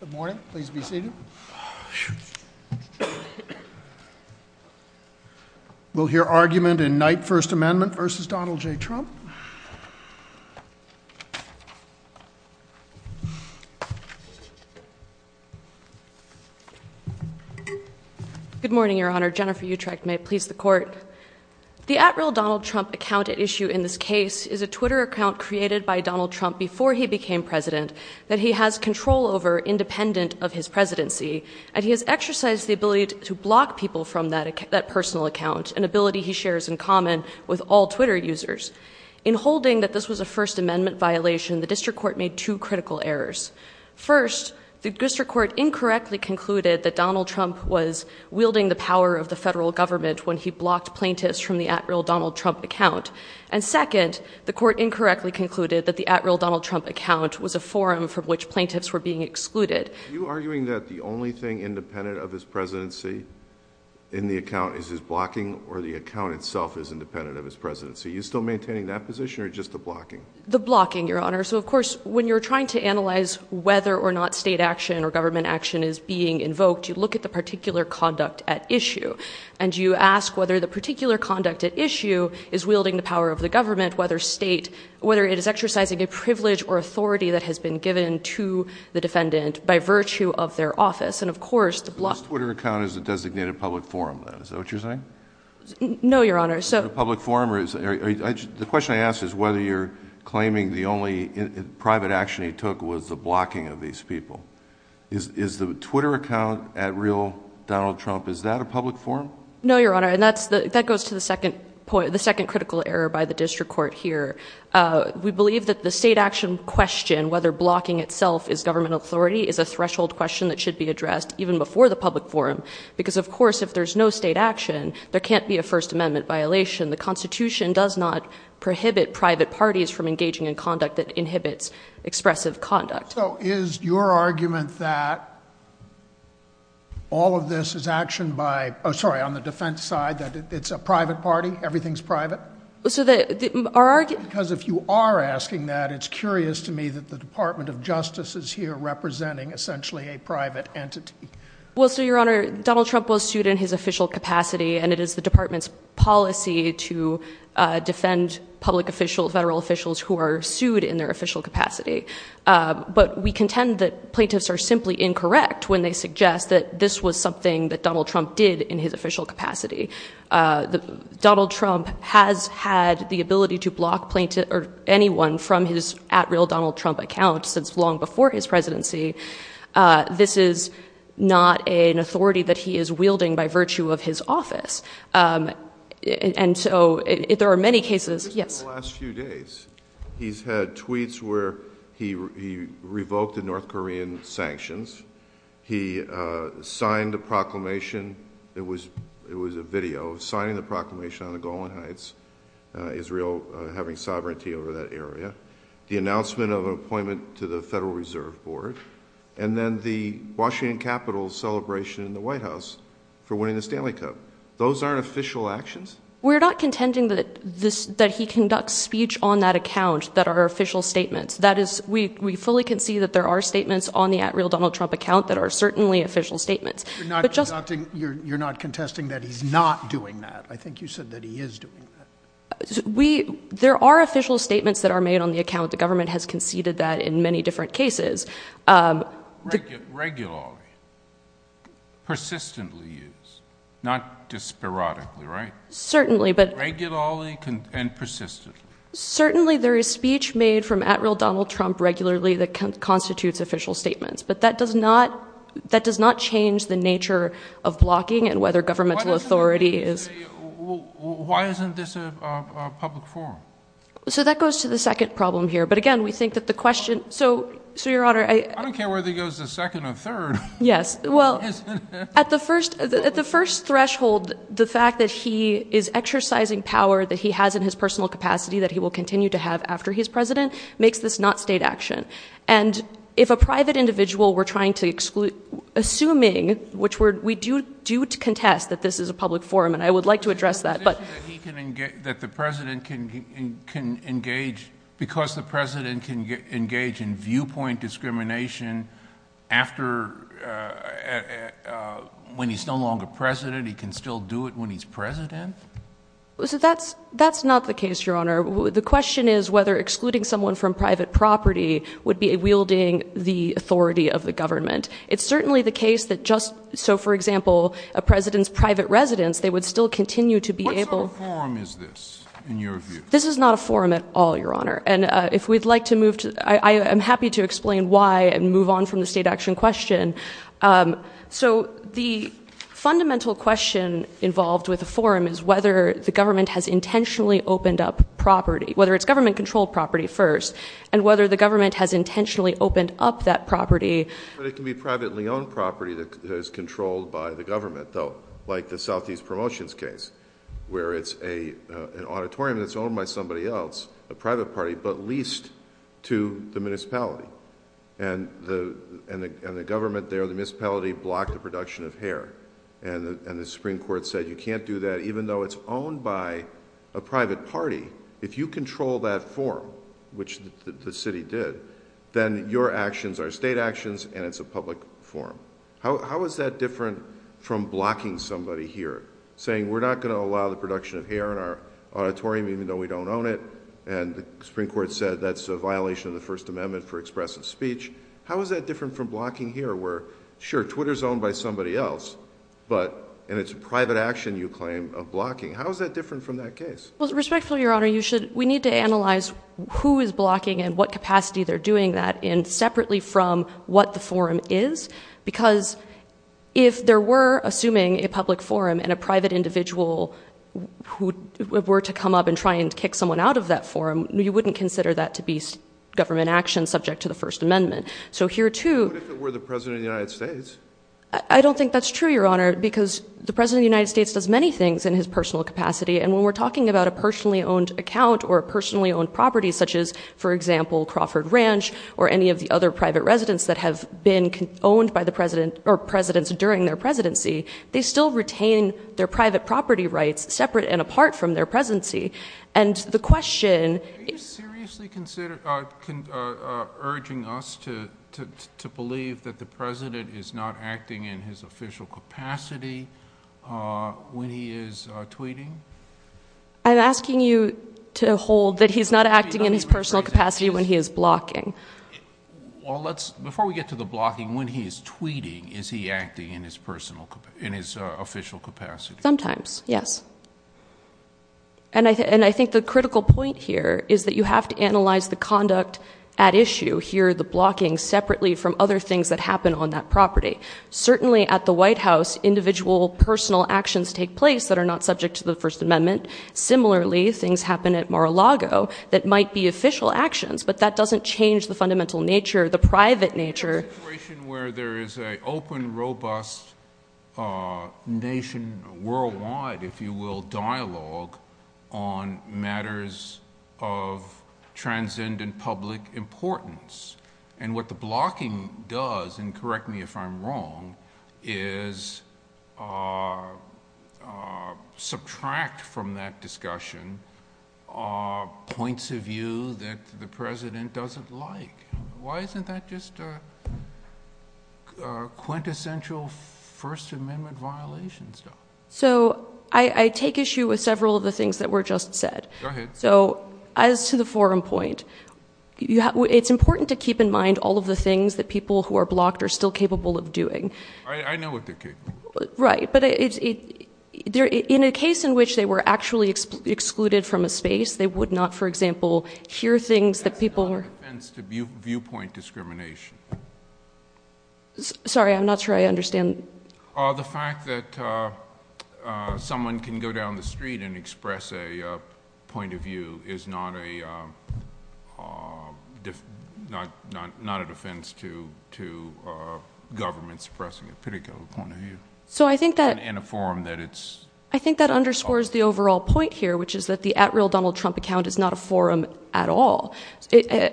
Good morning, please be seated. We'll hear argument in Knight First Amendment v. Donald J. Trump. Good morning, Your Honor. Jennifer Utrecht, may it please the Court. The at-real Donald Trump account at issue in this case is a Twitter account created by Donald Trump before he became president that he has control over independent of his presidency and he has exercised the ability to block people from that personal account, an ability he shares in common with all Twitter users. In holding that this was a First Amendment violation, the District Court made two critical errors. First, the District Court incorrectly concluded that Donald Trump was wielding the power of the federal government when he blocked plaintiffs from the at-real Donald Trump account. And second, the Court incorrectly concluded that the at-real Donald Trump account was a forum from which plaintiffs were being excluded. Are you arguing that the only thing independent of his presidency in the account is his blocking or the account itself is independent of his presidency? Are you still maintaining that position or just the blocking? The blocking, Your Honor. So of course, when you're trying to analyze whether or not state action or government action is being invoked, you look at the particular conduct at issue and you ask whether the particular conduct at issue is wielding the power of the government, whether state, whether it is exercising a privilege or authority that has been given to the defendant by virtue of their office. And of course, the blocking. So his Twitter account is a designated public forum then, is that what you're saying? No, Your Honor. Is it a public forum? The question I ask is whether you're claiming the only private action he took was the blocking of these people. Is the Twitter account at-real Donald Trump, is that a public forum? No, Your Honor. And that goes to the second critical error by the district court here. We believe that the state action question, whether blocking itself is government authority, is a threshold question that should be addressed even before the public forum. Because of course, if there's no state action, there can't be a First Amendment violation. The Constitution does not prohibit private parties from engaging in conduct that inhibits expressive conduct. So is your argument that all of this is action by, oh sorry, on the defense side, that it's a private party, everything's private? Because if you are asking that, it's curious to me that the Department of Justice is here representing essentially a private entity. Well, so Your Honor, Donald Trump was sued in his official capacity and it is the department's duty to defend public officials, federal officials who are sued in their official capacity. But we contend that plaintiffs are simply incorrect when they suggest that this was something that Donald Trump did in his official capacity. Donald Trump has had the ability to block anyone from his at-real Donald Trump account since long before his presidency. This is not an authority that he is wielding by virtue of his office. And so, there are many cases, yes. Just in the last few days, he's had tweets where he revoked the North Korean sanctions. He signed a proclamation, it was a video, signing the proclamation on the Golan Heights, Israel having sovereignty over that area. The announcement of an appointment to the Federal Reserve Board. And then the Washington Capitol celebration in the White House for winning the Stanley Cup. Those aren't official actions? We're not contending that he conducts speech on that account that are official statements. That is, we fully concede that there are statements on the at-real Donald Trump account that are certainly official statements. You're not contesting that he's not doing that. I think you said that he is doing that. There are official statements that are made on the account. The government has conceded that in many different cases. Regularly, persistently used, not just sporadically, right? Certainly. Regularly and persistently. Certainly there is speech made from at-real Donald Trump regularly that constitutes official statements. But that does not change the nature of blocking and whether governmental authority is... Why isn't this a public forum? So that goes to the second problem here. But again, we think that the question... So Your Honor, I... I don't care whether he goes to second or third. Yes. Well, at the first threshold, the fact that he is exercising power that he has in his personal capacity that he will continue to have after his president makes this not state action. And if a private individual we're trying to exclude, assuming, which we do contest that this is a public forum, and I would like to address that, but... So a president can engage in viewpoint discrimination after... When he's no longer president, he can still do it when he's president? That's not the case, Your Honor. The question is whether excluding someone from private property would be wielding the authority of the government. It's certainly the case that just... So for example, a president's private residence, they would still continue to be able... What sort of forum is this, in your view? This is not a forum at all, Your Honor. And if we'd like to move to... I am happy to explain why and move on from the state action question. So the fundamental question involved with a forum is whether the government has intentionally opened up property, whether it's government-controlled property first, and whether the government has intentionally opened up that property. But it can be privately owned property that is controlled by the government, though, like the Southeast Promotions case, where it's an auditorium that's owned by somebody else, a private party, but leased to the municipality. And the government there, the municipality, blocked the production of hair. And the Supreme Court said, you can't do that, even though it's owned by a private party. If you control that forum, which the city did, then your actions are state actions and it's a public forum. How is that different from blocking somebody here, saying, we're not going to allow the And the Supreme Court said that's a violation of the First Amendment for expressive speech. How is that different from blocking here, where, sure, Twitter's owned by somebody else, but... And it's a private action, you claim, of blocking. How is that different from that case? Well, respectfully, Your Honor, you should... We need to analyze who is blocking and what capacity they're doing that in, separately from what the forum is. Because if there were, assuming a public forum, and a private individual who were to come up and try and kick someone out of that forum, you wouldn't consider that to be government action subject to the First Amendment. So here, too... What if it were the President of the United States? I don't think that's true, Your Honor, because the President of the United States does many things in his personal capacity. And when we're talking about a personally owned account or a personally owned property, such as, for example, Crawford Ranch, or any of the other private residents that have been owned by the President, or presidents during their presidency, they still retain their identity. And the question... Are you seriously urging us to believe that the President is not acting in his official capacity when he is tweeting? I'm asking you to hold that he's not acting in his personal capacity when he is blocking. Well, before we get to the blocking, when he is tweeting, is he acting in his official capacity? Sometimes, yes. And I think the critical point here is that you have to analyze the conduct at issue here, the blocking, separately from other things that happen on that property. Certainly at the White House, individual personal actions take place that are not subject to the First Amendment. Similarly, things happen at Mar-a-Lago that might be official actions, but that doesn't change the fundamental nature, the private nature... It's a situation where there is a open, robust nation worldwide, if you will, dialogue on matters of transcendent public importance. And what the blocking does, and correct me if I'm wrong, is subtract from that discussion points of view that the President doesn't like. Why isn't that just a quintessential First Amendment violation, though? So I take issue with several of the things that were just said. So as to the forum point, it's important to keep in mind all of the things that people who are blocked are still capable of doing. I know what they're capable of. Right. But in a case in which they were actually excluded from a space, they would not, for example, hear things that people... It's not a defense to viewpoint discrimination. Sorry, I'm not sure I understand. The fact that someone can go down the street and express a point of view is not a defense to government suppressing a particular point of view. So I think that... And a forum that it's... I think that underscores the overall point here, which is that the at-will Donald Trump account is not a forum at all.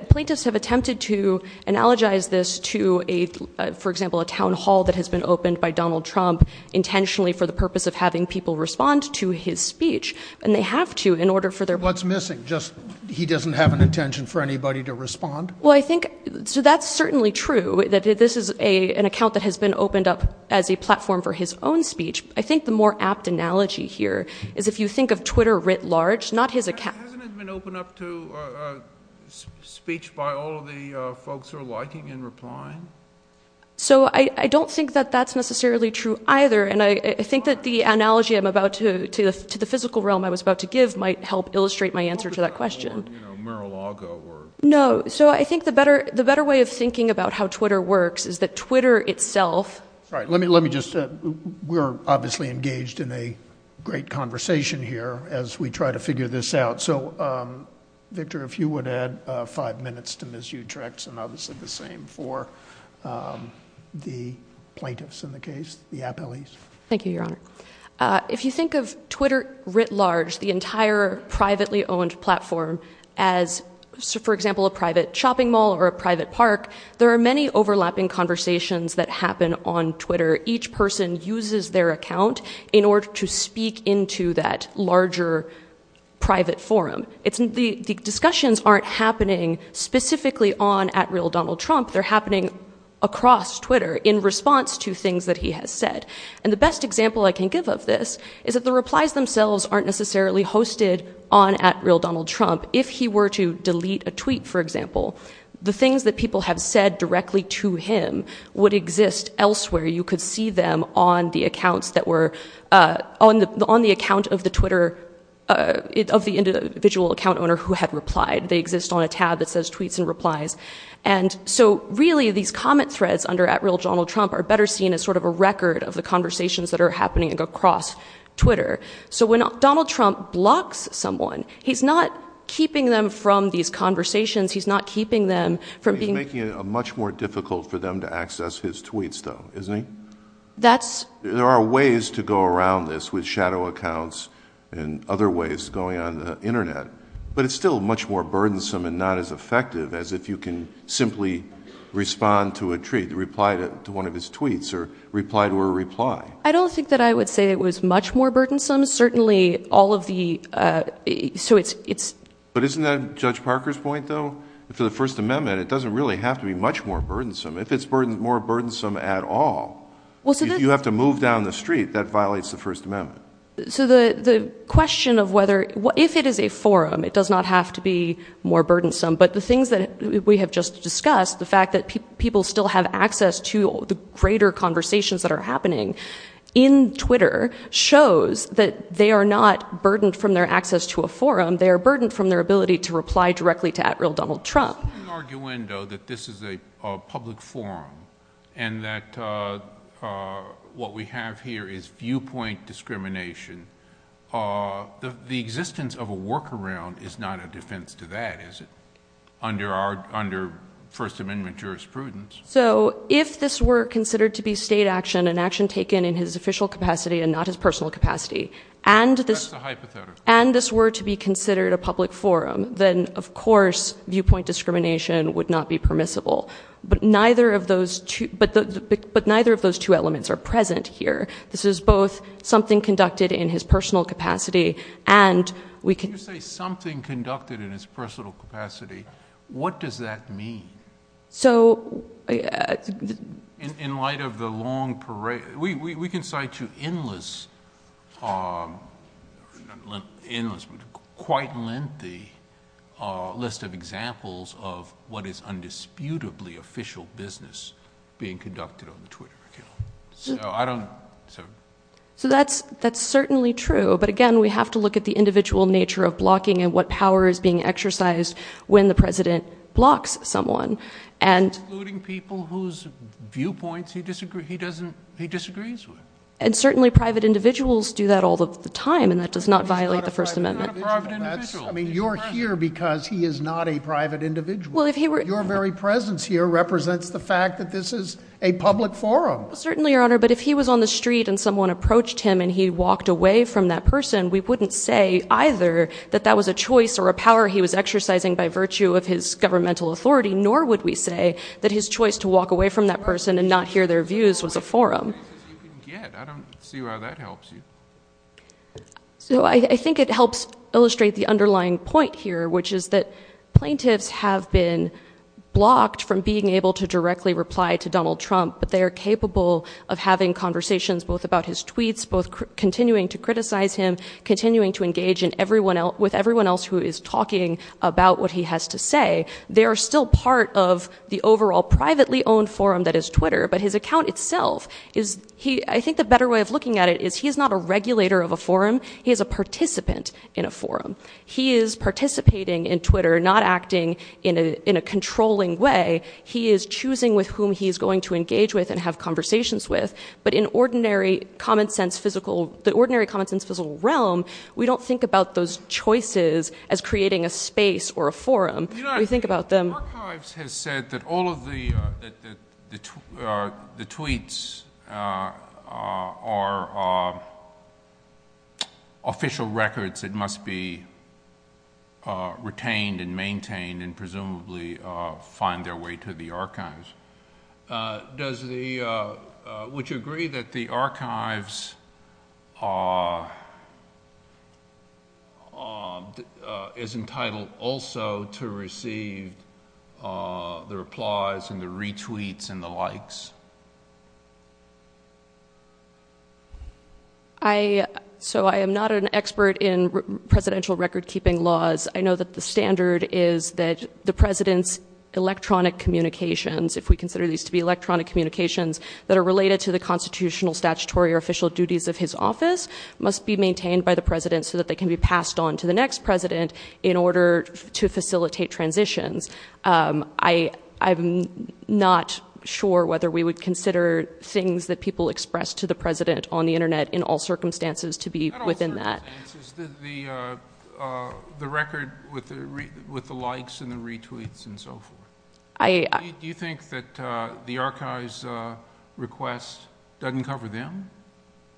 Plaintiffs have attempted to analogize this to a, for example, a town hall that has been opened by Donald Trump intentionally for the purpose of having people respond to his speech, and they have to in order for their... What's missing? Just he doesn't have an intention for anybody to respond? Well, I think... So that's certainly true, that this is an account that has been opened up as a platform for his own speech. I think the more apt analogy here is if you think of Twitter writ large, not his account... Hasn't it been opened up to speech by all of the folks who are liking and replying? So I don't think that that's necessarily true either. And I think that the analogy I'm about to... To the physical realm I was about to give might help illustrate my answer to that question. Or, you know, Mar-a-Lago or... No. So I think the better way of thinking about how Twitter works is that Twitter itself... Sorry, let me just... We're obviously engaged in a great conversation here as we try to figure this out. So, Victor, if you would add five minutes to Ms. Utrecht's and I'll do the same for the plaintiffs in the case, the appellees. Thank you, Your Honor. If you think of Twitter writ large, the entire privately owned platform as, for example, a private shopping mall or a private park, there are many overlapping conversations that happen on Twitter. Each person uses their account in order to speak into that larger private forum. The discussions aren't happening specifically on at real Donald Trump. They're happening across Twitter in response to things that he has said. And the best example I can give of this is that the replies themselves aren't necessarily hosted on at real Donald Trump. If he were to delete a tweet, for example, the things that people have said directly to him would exist elsewhere. You could see them on the accounts that were... On the account of the Twitter... Of the individual account owner who had replied. They exist on a tab that says tweets and replies. And so really these comment threads under at real Donald Trump are better seen as sort of a record of the conversations that are happening across Twitter. So when Donald Trump blocks someone, he's not keeping them from these conversations. He's not keeping them from being... Isn't he? That's... There are ways to go around this with shadow accounts and other ways going on the internet. But it's still much more burdensome and not as effective as if you can simply respond to a tweet, reply to one of his tweets, or reply to a reply. I don't think that I would say it was much more burdensome. Certainly all of the... So it's... But isn't that Judge Parker's point though? For the First Amendment, it doesn't really have to be much more burdensome. If it's more burdensome at all, you have to move down the street, that violates the First Amendment. So the question of whether... If it is a forum, it does not have to be more burdensome. But the things that we have just discussed, the fact that people still have access to greater conversations that are happening in Twitter, shows that they are not burdened from their access to a forum, they are burdened from their ability to reply directly to at real Donald Trump. So what's the argument though that this is a public forum and that what we have here is viewpoint discrimination? The existence of a workaround is not a defense to that, is it? Under First Amendment jurisprudence. So if this were considered to be state action, an action taken in his official capacity and not his personal capacity, and this were to be considered a public forum, then of course viewpoint discrimination would not be permissible. But neither of those two elements are present here. This is both something conducted in his personal capacity and we can... When you say something conducted in his personal capacity, what does that mean? So... In light of the long parade... We can cite you endless, quite lengthy list of examples of what is undisputably official business being conducted on the Twitter. So that's certainly true, but again, we have to look at the individual nature of blocking and what power is being exercised when the president blocks someone. Excluding people whose viewpoints he disagrees with. And certainly private individuals do that all of the time and that does not violate the First Amendment. He's not a private individual. I mean, you're here because he is not a private individual. Your very presence here represents the fact that this is a public forum. Certainly Your Honor, but if he was on the street and someone approached him and he walked away from that person, we wouldn't say either that that was a choice or a power he was exercising by virtue of his governmental authority, nor would we say that his choice to walk away from that person and not hear their views was a forum. I don't see why that helps you. So I think it helps illustrate the underlying point here, which is that plaintiffs have been blocked from being able to directly reply to Donald Trump, but they are capable of having conversations both about his tweets, both continuing to criticize him, continuing to what he has to say. They are still part of the overall privately owned forum that is Twitter, but his account itself is, I think the better way of looking at it is he is not a regulator of a forum. He is a participant in a forum. He is participating in Twitter, not acting in a controlling way. He is choosing with whom he is going to engage with and have conversations with. But in the ordinary common sense physical realm, we don't think about those choices as creating a space or a forum. We think about them. The archives has said that all of the tweets are official records that must be retained and maintained and presumably find their way to the archives. Would you agree that the archives is entitled also to receive the replies and the retweets and the likes? So I am not an expert in presidential record keeping laws. I know that the standard is that the president's electronic communications, if we consider these to be electronic communications, that are related to the constitutional, statutory or official duties of his office must be maintained by the president so that they can be passed on to the next president in order to facilitate transitions. I am not sure whether we would consider things that people express to the president on the internet in all circumstances to be within that. The record with the likes and the retweets and so forth, do you think that the archives request doesn't cover them?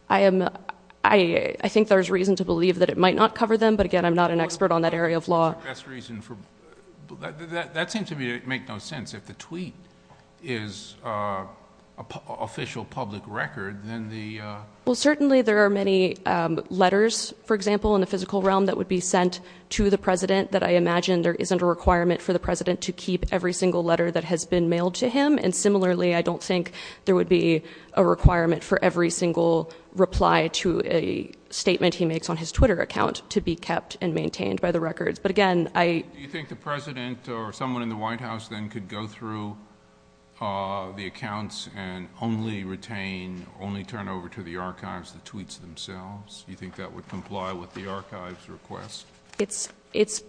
I think there is reason to believe that it might not cover them, but again, I am not an expert on that area of law. That seems to make no sense if the tweet is an official public record, then the... Well, certainly there are many letters, for example, in the physical realm that would be sent to the president that I imagine there isn't a requirement for the president to keep every single letter that has been mailed to him. And similarly, I don't think there would be a requirement for every single reply to a statement he makes on his Twitter account to be kept and maintained by the records. But again, I... Do you think the president or someone in the White House then could go through the accounts and only retain, only turn over to the archives the tweets themselves? You think that would comply with the archives request? It's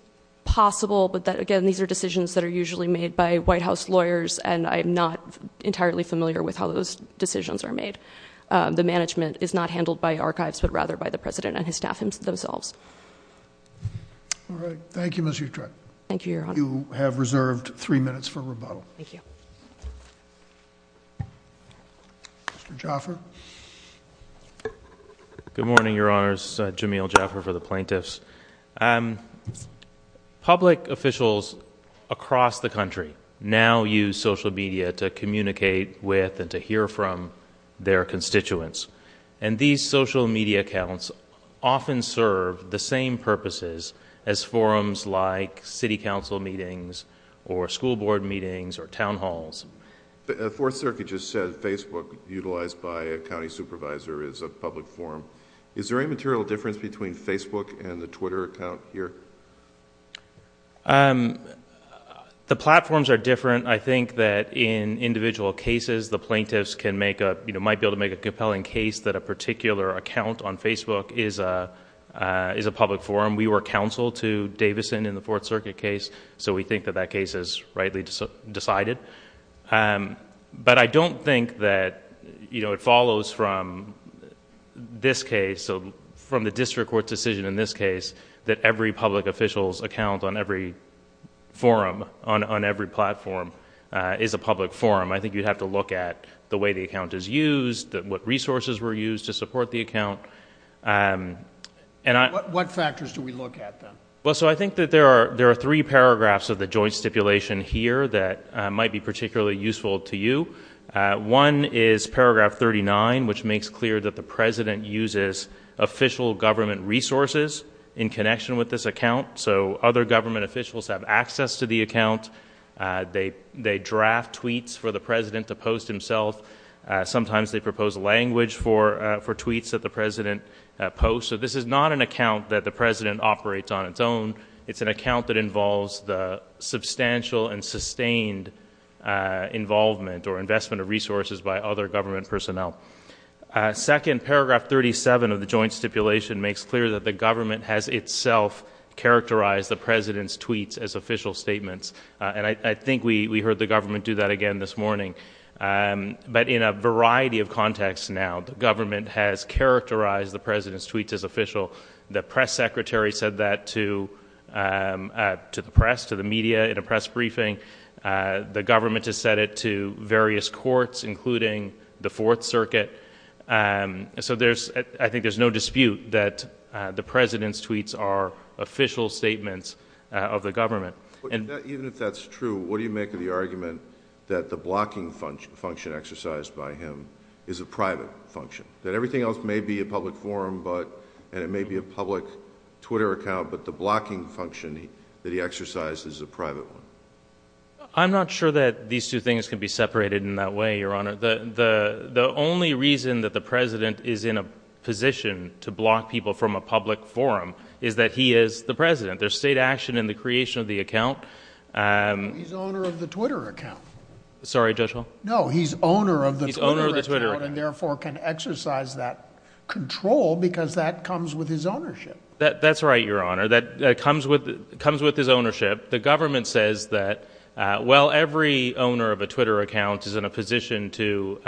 possible, but again, these are decisions that are usually made by White House lawyers and I'm not entirely familiar with how those decisions are made. The management is not handled by archives, but rather by the president and his staff themselves. All right. Thank you, Ms. Utrecht. Thank you, Your Honor. You have reserved three minutes for rebuttal. Thank you. Mr. Jaffer? Good morning, Your Honors. Jamil Jaffer for the plaintiffs. Public officials across the country now use social media to communicate with and to hear from their constituents. And these social media accounts often serve the same purposes as forums like city council meetings or school board meetings or town halls. The Fourth Circuit just said Facebook, utilized by a county supervisor, is a public forum. Is there any material difference between Facebook and the Twitter account here? The platforms are different. I think that in individual cases, the plaintiffs might be able to make a compelling case that a particular account on Facebook is a public forum. We were counsel to Davison in the Fourth Circuit case, so we think that that case is rightly decided. But I don't think that it follows from this case, from the district court decision in this case, that every public official's account on every forum, on every platform, is a public forum. I think you'd have to look at the way the account is used, what resources were used to support the account. What factors do we look at, then? Well, so I think that there are three paragraphs of the joint stipulation here that might be particularly useful to you. One is paragraph 39, which makes clear that the President uses official government resources in connection with this account, so other government officials have access to the account. They draft tweets for the President to post himself. Sometimes they propose language for tweets that the President posts. So this is not an account that the President operates on its own. It's an account that involves the substantial and sustained involvement or investment of resources by other government personnel. Second, paragraph 37 of the joint stipulation makes clear that the government has itself characterized the President's tweets as official statements, and I think we heard the government do that again this morning, but in a variety of contexts now, the government has characterized the President's tweets as official. The press secretary said that to the press, to the media, in a press briefing. The government has said it to various courts, including the Fourth Circuit. So I think there's no dispute that the President's tweets are official statements of the government. Even if that's true, what do you make of the argument that the blocking function exercised by him is a private function? That everything else may be a public forum, and it may be a public Twitter account, but the blocking function that he exercised is a private one? I'm not sure that these two things can be separated in that way, Your Honor. The only reason that the President is in a position to block people from a public forum is that he is the President. There's state action in the creation of the account. He's the owner of the Twitter account. Sorry, Judge Hall? No, he's owner of the Twitter account, and therefore can exercise that control because that comes with his ownership. That's right, Your Honor. That comes with his ownership. The government says that, well, every owner of a Twitter account is in a position to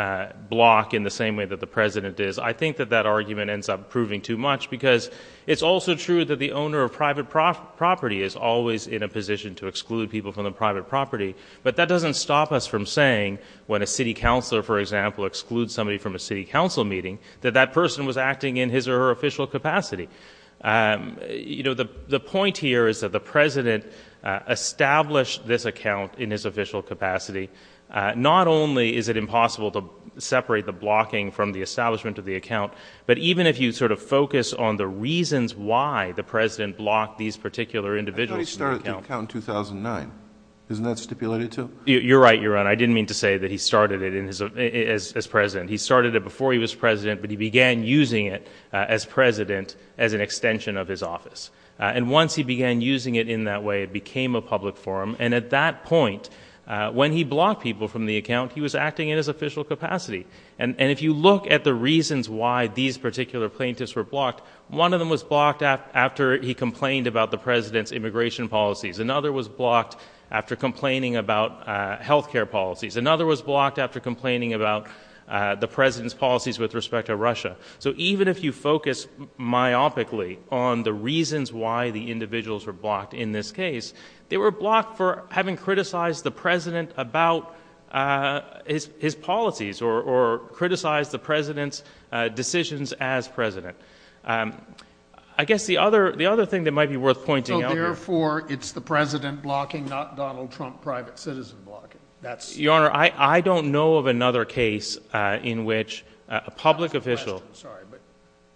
block in the same way that the President is. I think that that argument ends up proving too much, because it's also true that the private property is always in a position to exclude people from the private property, but that doesn't stop us from saying, when a city councilor, for example, excludes somebody from a city council meeting, that that person was acting in his or her official capacity. You know, the point here is that the President established this account in his official capacity. Not only is it impossible to separate the blocking from the establishment of the account, but even if you sort of focus on the reasons why the President blocked these particular individuals from the account- I thought he started the account in 2009. Isn't that stipulated, too? You're right, Your Honor. I didn't mean to say that he started it as President. He started it before he was President, but he began using it as President as an extension of his office. Once he began using it in that way, it became a public forum, and at that point, when he blocked people from the account, he was acting in his official capacity. If you look at the reasons why these particular plaintiffs were blocked, one of them was blocked after he complained about the President's immigration policies. Another was blocked after complaining about healthcare policies. Another was blocked after complaining about the President's policies with respect to Russia. Even if you focus myopically on the reasons why the individuals were blocked in this case, they were blocked for having criticized the President about his policies or criticized the President's decisions as President. I guess the other thing that might be worth pointing out- So, therefore, it's the President blocking, not Donald Trump, private citizen blocking. That's- Your Honor, I don't know of another case in which a public official- That's the question.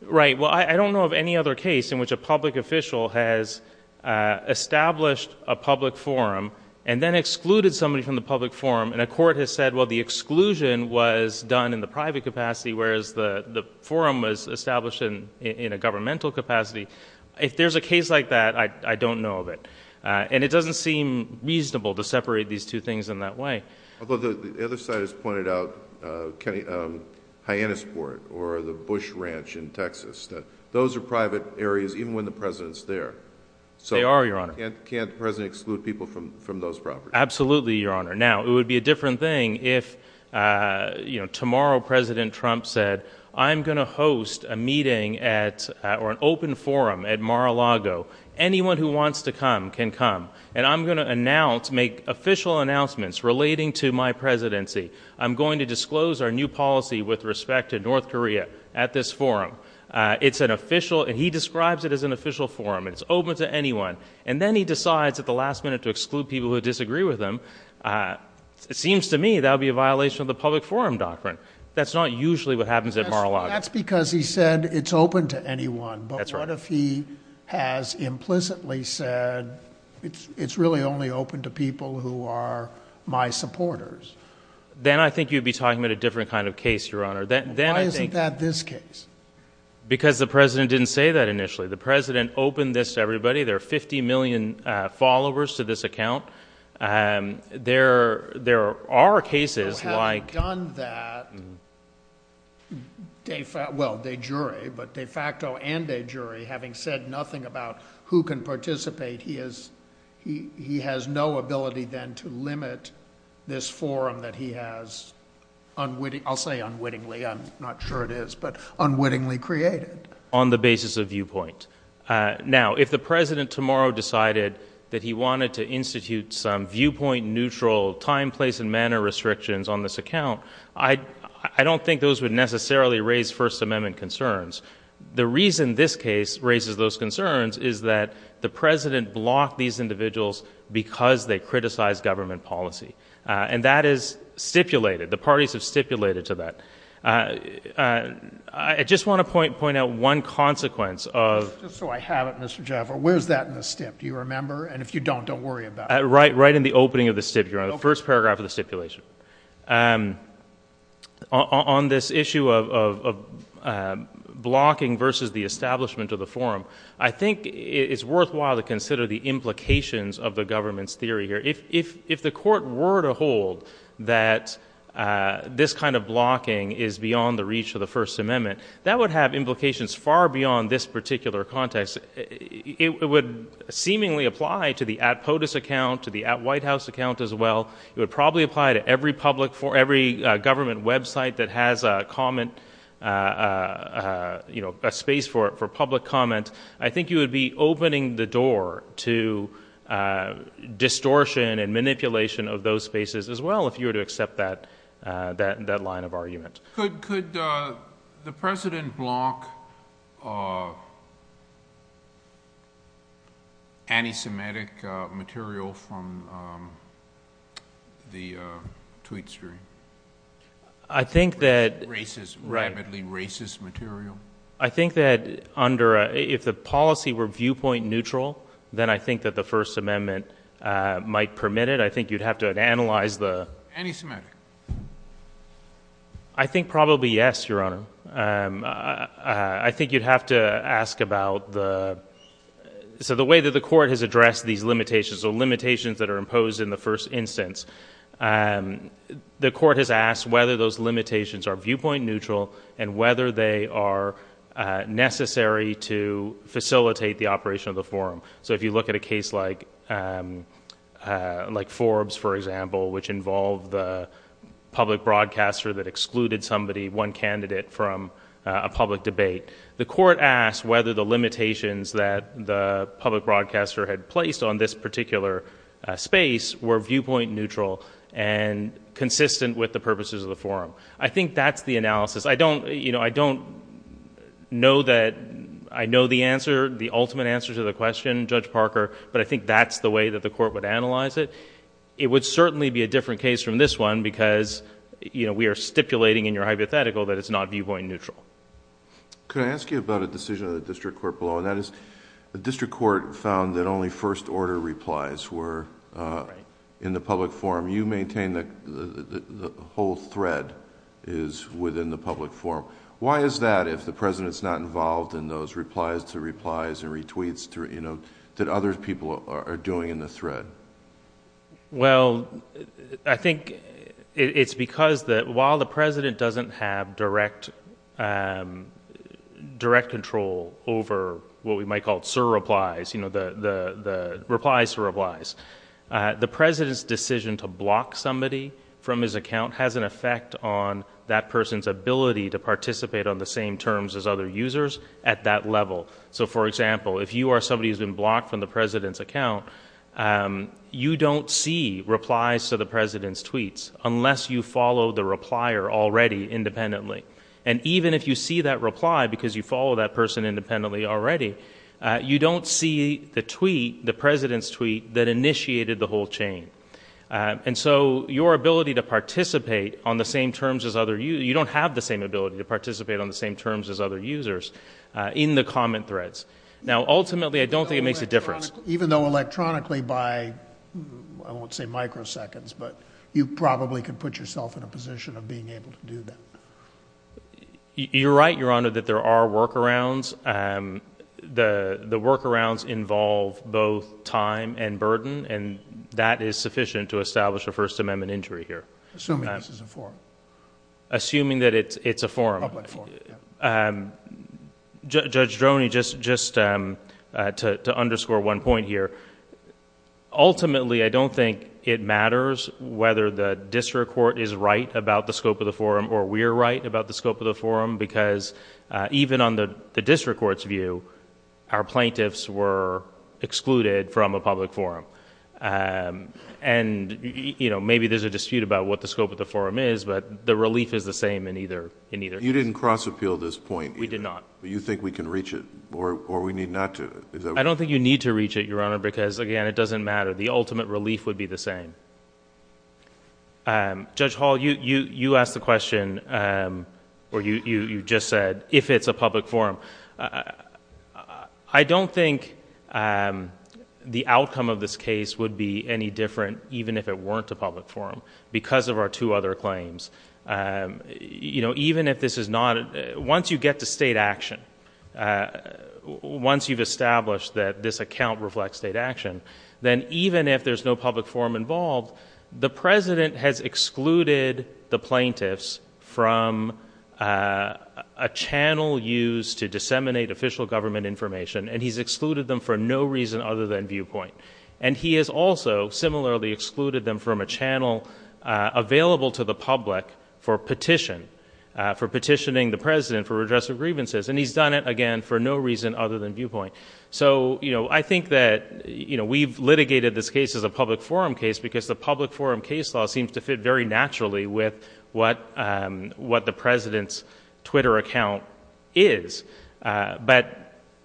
Sorry, but- I don't know of any other case in which a public official has established a public forum and then excluded somebody from the public forum, and a court has said, well, the exclusion was done in the private capacity, whereas the forum was established in a governmental capacity. If there's a case like that, I don't know of it. It doesn't seem reasonable to separate these two things in that way. Although the other side has pointed out Hyannisport or the Bush Ranch in Texas. Those are private areas, even when the President's there. They are, Your Honor. Can't the President exclude people from those properties? Absolutely, Your Honor. Now, it would be a different thing if tomorrow President Trump said, I'm going to host a meeting or an open forum at Mar-a-Lago. Anyone who wants to come can come, and I'm going to announce, make official announcements relating to my presidency. I'm going to disclose our new policy with respect to North Korea at this forum. It's an official, and he describes it as an official forum. It's open to anyone, and then he decides at the last minute to exclude people who disagree with him. It seems to me that would be a violation of the public forum doctrine. That's not usually what happens at Mar-a-Lago. That's because he said it's open to anyone, but what if he has implicitly said it's really only open to people who are my supporters? Then I think you'd be talking about a different kind of case, Your Honor. Then I think— Why isn't that this case? Because the President didn't say that initially. The President opened this to everybody. There are 50 million followers to this account. There are cases like— Who haven't done that de facto, well, de jure, but de facto and de jure, having said nothing about who can participate, he has no ability then to limit this forum that he has, I'll say unwittingly, I'm not sure it is, but unwittingly created. On the basis of viewpoint. Now, if the President tomorrow decided that he wanted to institute some viewpoint neutral time, place, and manner restrictions on this account, I don't think those would necessarily raise First Amendment concerns. The reason this case raises those concerns is that the President blocked these individuals because they criticized government policy. That is stipulated. The parties have stipulated to that. I just want to point out one consequence of— Just so I have it, Mr. Jaffer, where's that in the stip? Do you remember? If you don't, don't worry about it. Right in the opening of the stip, Your Honor, the first paragraph of the stipulation. On this issue of blocking versus the establishment of the forum, I think it's worthwhile to consider the implications of the government's theory here. If the court were to hold that this kind of blocking is beyond the reach of the First Amendment, that would have implications far beyond this particular context. It would seemingly apply to the at POTUS account, to the at White House account as well. It would probably apply to every government website that has a comment, a space for public comment. I think you would be opening the door to distortion and manipulation of those spaces as well if you were to accept that line of argument. Could the President block anti-Semitic material from the tweet stream? I think that— Racist, rabidly racist material? I think that under—if the policy were viewpoint neutral, then I think that the First Amendment might permit it. I think you'd have to analyze the— Anti-Semitic? I think probably yes, Your Honor. I think you'd have to ask about the—so the way that the court has addressed these limitations or limitations that are imposed in the first instance, the court has asked whether those limitations are viewpoint neutral and whether they are necessary to facilitate the operation of the forum. So if you look at a case like Forbes, for example, which involved the public broadcaster that excluded somebody, one candidate, from a public debate, the court asked whether the limitations that the public broadcaster had placed on this particular space were viewpoint neutral and consistent with the purposes of the forum. I think that's the analysis. I don't know that—I know the answer, the ultimate answer to the question, Judge Parker, but I think that's the way that the court would analyze it. It would certainly be a different case from this one because we are stipulating in your hypothetical that it's not viewpoint neutral. Could I ask you about a decision of the district court below, and that is the district court found that only first order replies were in the public forum. You maintain that the whole thread is within the public forum. Why is that if the president's not involved in those replies to replies and retweets that other people are doing in the thread? Well, I think it's because while the president doesn't have direct control over what we do, the ability to block somebody from his account has an effect on that person's ability to participate on the same terms as other users at that level. So for example, if you are somebody who's been blocked from the president's account, you don't see replies to the president's tweets unless you follow the replier already independently. And even if you see that reply because you follow that person independently already, you don't see the tweet, the president's tweet, that initiated the whole chain. And so your ability to participate on the same terms as other users, you don't have the same ability to participate on the same terms as other users in the comment threads. Now ultimately, I don't think it makes a difference. Even though electronically by, I won't say microseconds, but you probably could put yourself in a position of being able to do that. You're right, your honor, that there are workarounds. The workarounds involve both time and burden, and that is sufficient to establish a First Amendment injury here. Assuming this is a forum. Assuming that it's a forum. A public forum, yeah. Judge Droney, just to underscore one point here, ultimately I don't think it matters whether the district court is right about the scope of the forum or we're right about the scope of the forum, because even on the district court's view, our plaintiffs were excluded from a public forum. And maybe there's a dispute about what the scope of the forum is, but the relief is the same in either case. You didn't cross-appeal this point. We did not. But you think we can reach it, or we need not to? I don't think you need to reach it, your honor, because again, it doesn't matter. The ultimate relief would be the same. Judge Hall, you asked the question, or you just said, if it's a public forum. I don't think the outcome of this case would be any different even if it weren't a public forum, because of our two other claims. Even if this is not... Once you get to state action, once you've established that this account reflects state action, then even if there's no public forum involved, the president has excluded the plaintiffs from a channel used to disseminate official government information, and he's excluded them for no reason other than viewpoint. And he has also similarly excluded them from a channel available to the public for petition, for petitioning the president for redress of grievances, and he's done it, again, for no reason other than viewpoint. So I think that we've litigated this case as a public forum case, because the public forum case law seems to fit very naturally with what the president's Twitter account is. But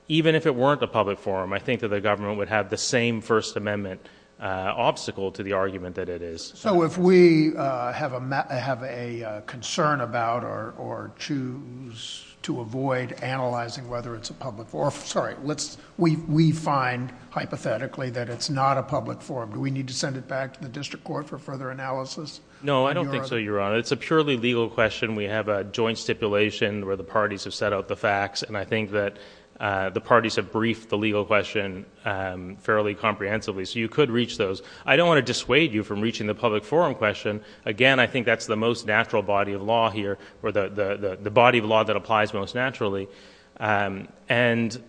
even if it weren't a public forum, I think that the government would have the same First Amendment obstacle to the argument that it is. So if we have a concern about, or choose to avoid analyzing whether it's a public forum... Or, sorry, let's... We find, hypothetically, that it's not a public forum. Do we need to send it back to the district court for further analysis? No, I don't think so, Your Honor. It's a purely legal question. We have a joint stipulation where the parties have set out the facts, and I think that the parties have briefed the legal question fairly comprehensively. So you could reach those. I don't want to dissuade you from reaching the public forum question. Again, I think that's the most natural body of law here, or the body of law that applies most naturally. And,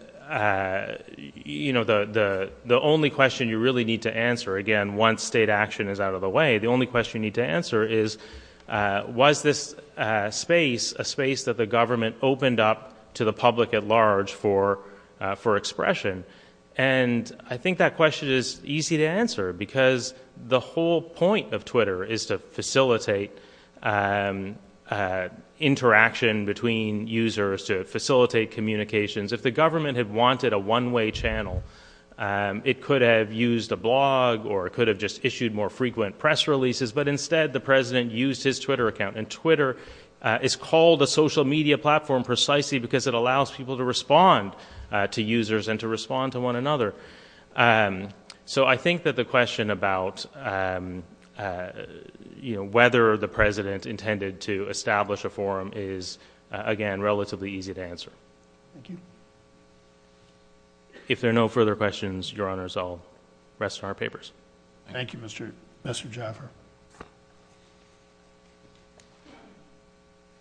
you know, the only question you really need to answer, again, once state action is out of the way, the only question you need to answer is, was this space a space that the government opened up to the public at large for expression? And I think that question is easy to answer, because the whole point of Twitter is to facilitate interaction between users, to facilitate communications. If the government had wanted a one-way channel, it could have used a blog, or it could have just issued more frequent press releases. But instead, the president used his Twitter account. And Twitter is called a social media platform precisely because it allows people to respond to users and to respond to one another. So, I think that the question about, you know, whether the president intended to establish a forum is, again, relatively easy to answer. If there are no further questions, Your Honors, I'll rest our papers. Thank you, Mr. Jaffer.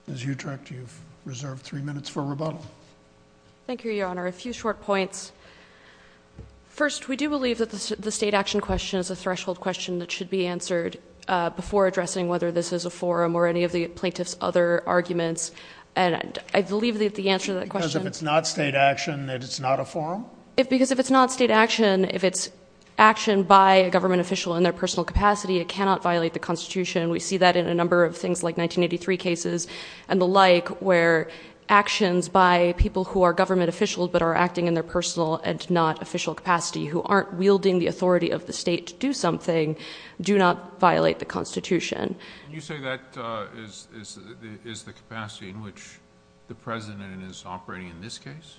Ms. Utrecht, you've reserved three minutes for rebuttal. Thank you, Your Honor. A few short points. First, we do believe that the state action question is a threshold question that should be answered before addressing whether this is a forum or any of the plaintiff's other arguments. And I believe that the answer to that question— Because if it's not state action, then it's not a forum? Because if it's not state action, if it's action by a government official in their personal capacity, it cannot violate the Constitution. We see that in a number of things like 1983 cases and the like, where actions by people who are government officials but are acting in their personal and not official capacity, who aren't wielding the authority of the state to do something, do not violate the Constitution. Can you say that is the capacity in which the president is operating in this case?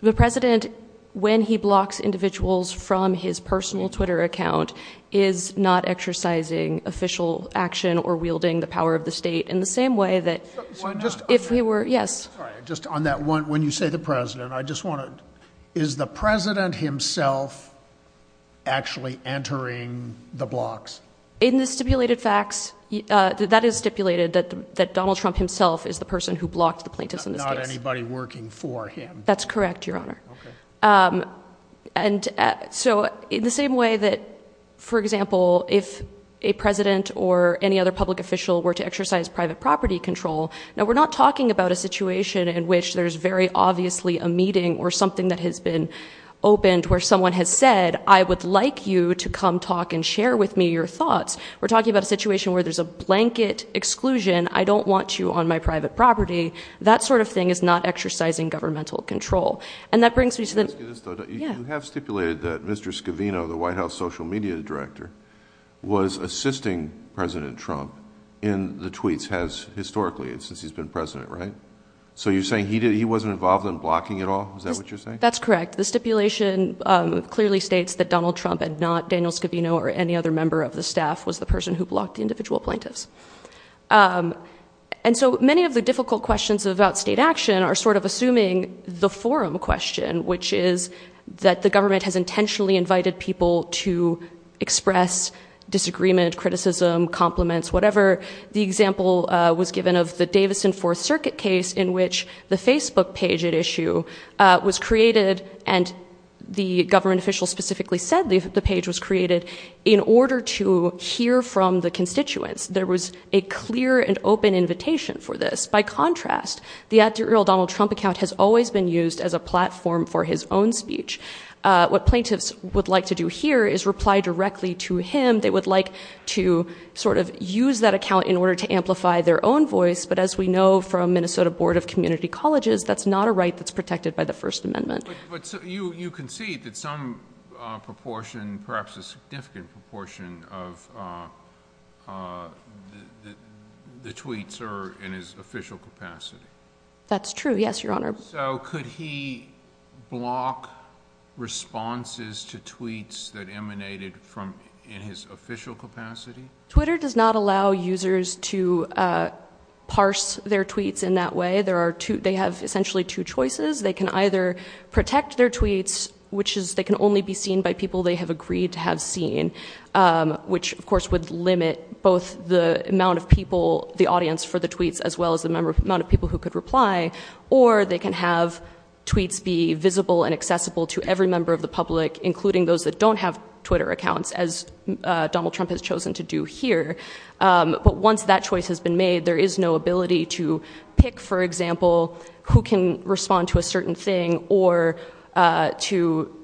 The president, when he blocks individuals from his personal Twitter account, is not exercising official action or wielding the power of the state in the same way that... Why not? If he were, yes. Sorry, just on that one, when you say the president, I just want to... Is the president himself actually entering the blocks? In the stipulated facts, that is stipulated, that Donald Trump himself is the person who blocked the plaintiffs in this case. Not anybody working for him? That's correct, Your Honor. Okay. And so, in the same way that, for example, if a president or any other public official were to exercise private property control, now we're not talking about a situation in which there's very obviously a meeting or something that has been opened where someone has said, I would like you to come talk and share with me your thoughts. We're talking about a situation where there's a blanket exclusion, I don't want you on my private property. That sort of thing is not exercising governmental control. And that brings me to the... Can I ask you this, though? Yeah. You have stipulated that Mr. Scavino, the White House social media director, was assisting President Trump in the tweets historically, since he's been president, right? So you're saying he wasn't involved in blocking at all? Is that what you're saying? That's correct. The stipulation clearly states that Donald Trump and not Daniel Scavino or any other member of the staff was the person who blocked the individual plaintiffs. And so, many of the difficult questions about state action are sort of assuming the forum question, which is that the government has intentionally invited people to express disagreement, criticism, compliments, whatever. The example was given of the Davidson Fourth Circuit case in which the Facebook page at issue was created and the government official specifically said the page was created in order to hear from the constituents. There was a clear and open invitation for this. By contrast, the at-deal Donald Trump account has always been used as a platform for his own speech. What plaintiffs would like to do here is reply directly to him. They would like to sort of use that account in order to amplify their own voice. But as we know from Minnesota Board of Community Colleges, that's not a right that's protected by the First Amendment. You concede that some proportion, perhaps a significant proportion of the tweets are in his official capacity. That's true. Yes, Your Honor. So could he block responses to tweets that emanated from in his official capacity? Twitter does not allow users to parse their tweets in that way. They have essentially two choices. They can either protect their tweets, which is they can only be seen by people they have agreed to have seen, which of course would limit both the amount of people, the audience for the tweets, as well as the amount of people who could reply. Or they can have tweets be visible and accessible to every member of the public, including those that don't have Twitter accounts, as Donald Trump has chosen to do here. But once that choice has been made, there is no ability to pick, for example, who can respond to a certain thing or to,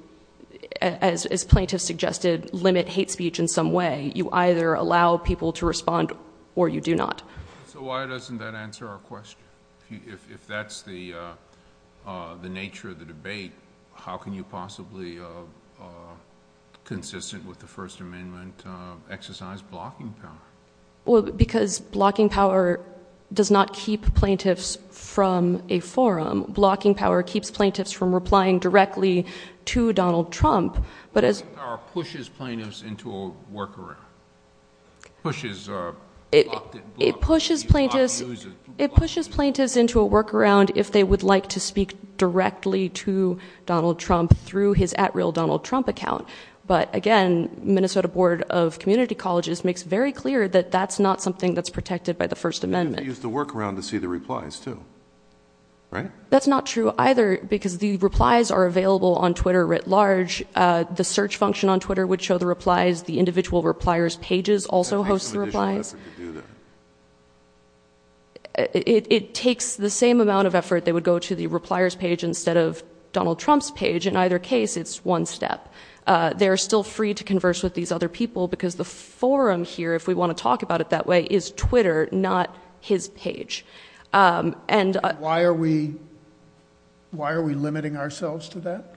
as plaintiffs suggested, limit hate speech in some way. You either allow people to respond or you do not. So why doesn't that answer our question? If that's the nature of the debate, how can you possibly, consistent with the First Amendment, exercise blocking power? Because blocking power does not keep plaintiffs from a forum. Blocking power keeps plaintiffs from replying directly to Donald Trump, but as... It pushes plaintiffs into a workaround if they would like to speak directly to Donald Trump through his at-real Donald Trump account. But again, Minnesota Board of Community Colleges makes very clear that that's not something that's protected by the First Amendment. You can use the workaround to see the replies too, right? That's not true either, because the replies are available on Twitter writ large. The search function on Twitter would show the replies. The individual repliers' pages also host the replies. It takes the same amount of effort. They would go to the repliers' page instead of Donald Trump's page. In either case, it's one step. They're still free to converse with these other people, because the forum here, if we want to talk about it that way, is Twitter, not his page. Why are we limiting ourselves to that?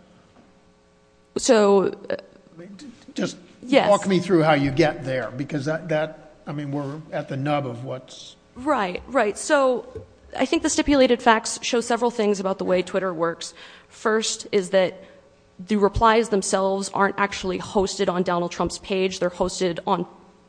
Just walk me through how you get there, because that... I mean, we're at the nub of what's... Right, right. So I think the stipulated facts show several things about the way Twitter works. First is that the replies themselves aren't actually hosted on Donald Trump's page. They're hosted on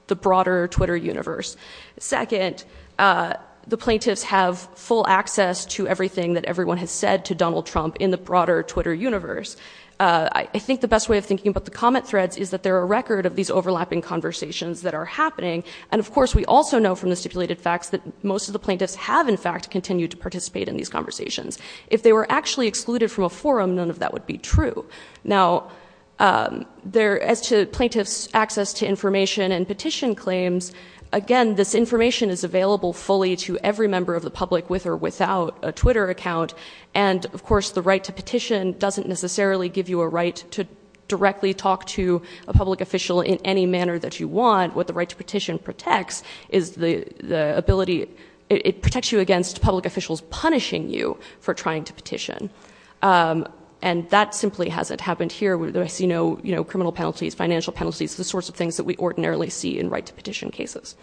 the broader Twitter universe. Second, the plaintiffs have full access to everything that everyone has said to Donald Trump in the broader Twitter universe. I think the best way of thinking about the comment threads is that they're a record of these overlapping conversations that are happening. And of course, we also know from the stipulated facts that most of the plaintiffs have, in fact, continued to participate in these conversations. If they were actually excluded from a forum, none of that would be true. Now, as to plaintiffs' access to information and petition claims, again, this information is available fully to every member of the public, with or without a Twitter account. And of course, the right to petition doesn't necessarily give you a right to directly talk to a public official in any manner that you want. What the right to petition protects is the ability... it protects you against public officials punishing you for trying to petition. And that simply hasn't happened here, where I see no criminal penalties, financial penalties, the sorts of things that we ordinarily see in right to petition cases.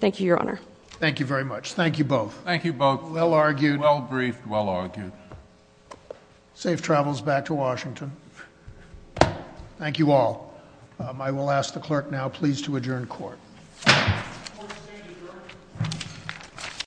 Thank you, Your Honor. Thank you very much. Thank you both. Thank you both. Well argued. Well briefed. Well argued. Safe travels back to Washington. Thank you all. I will ask the clerk now, please, to adjourn court.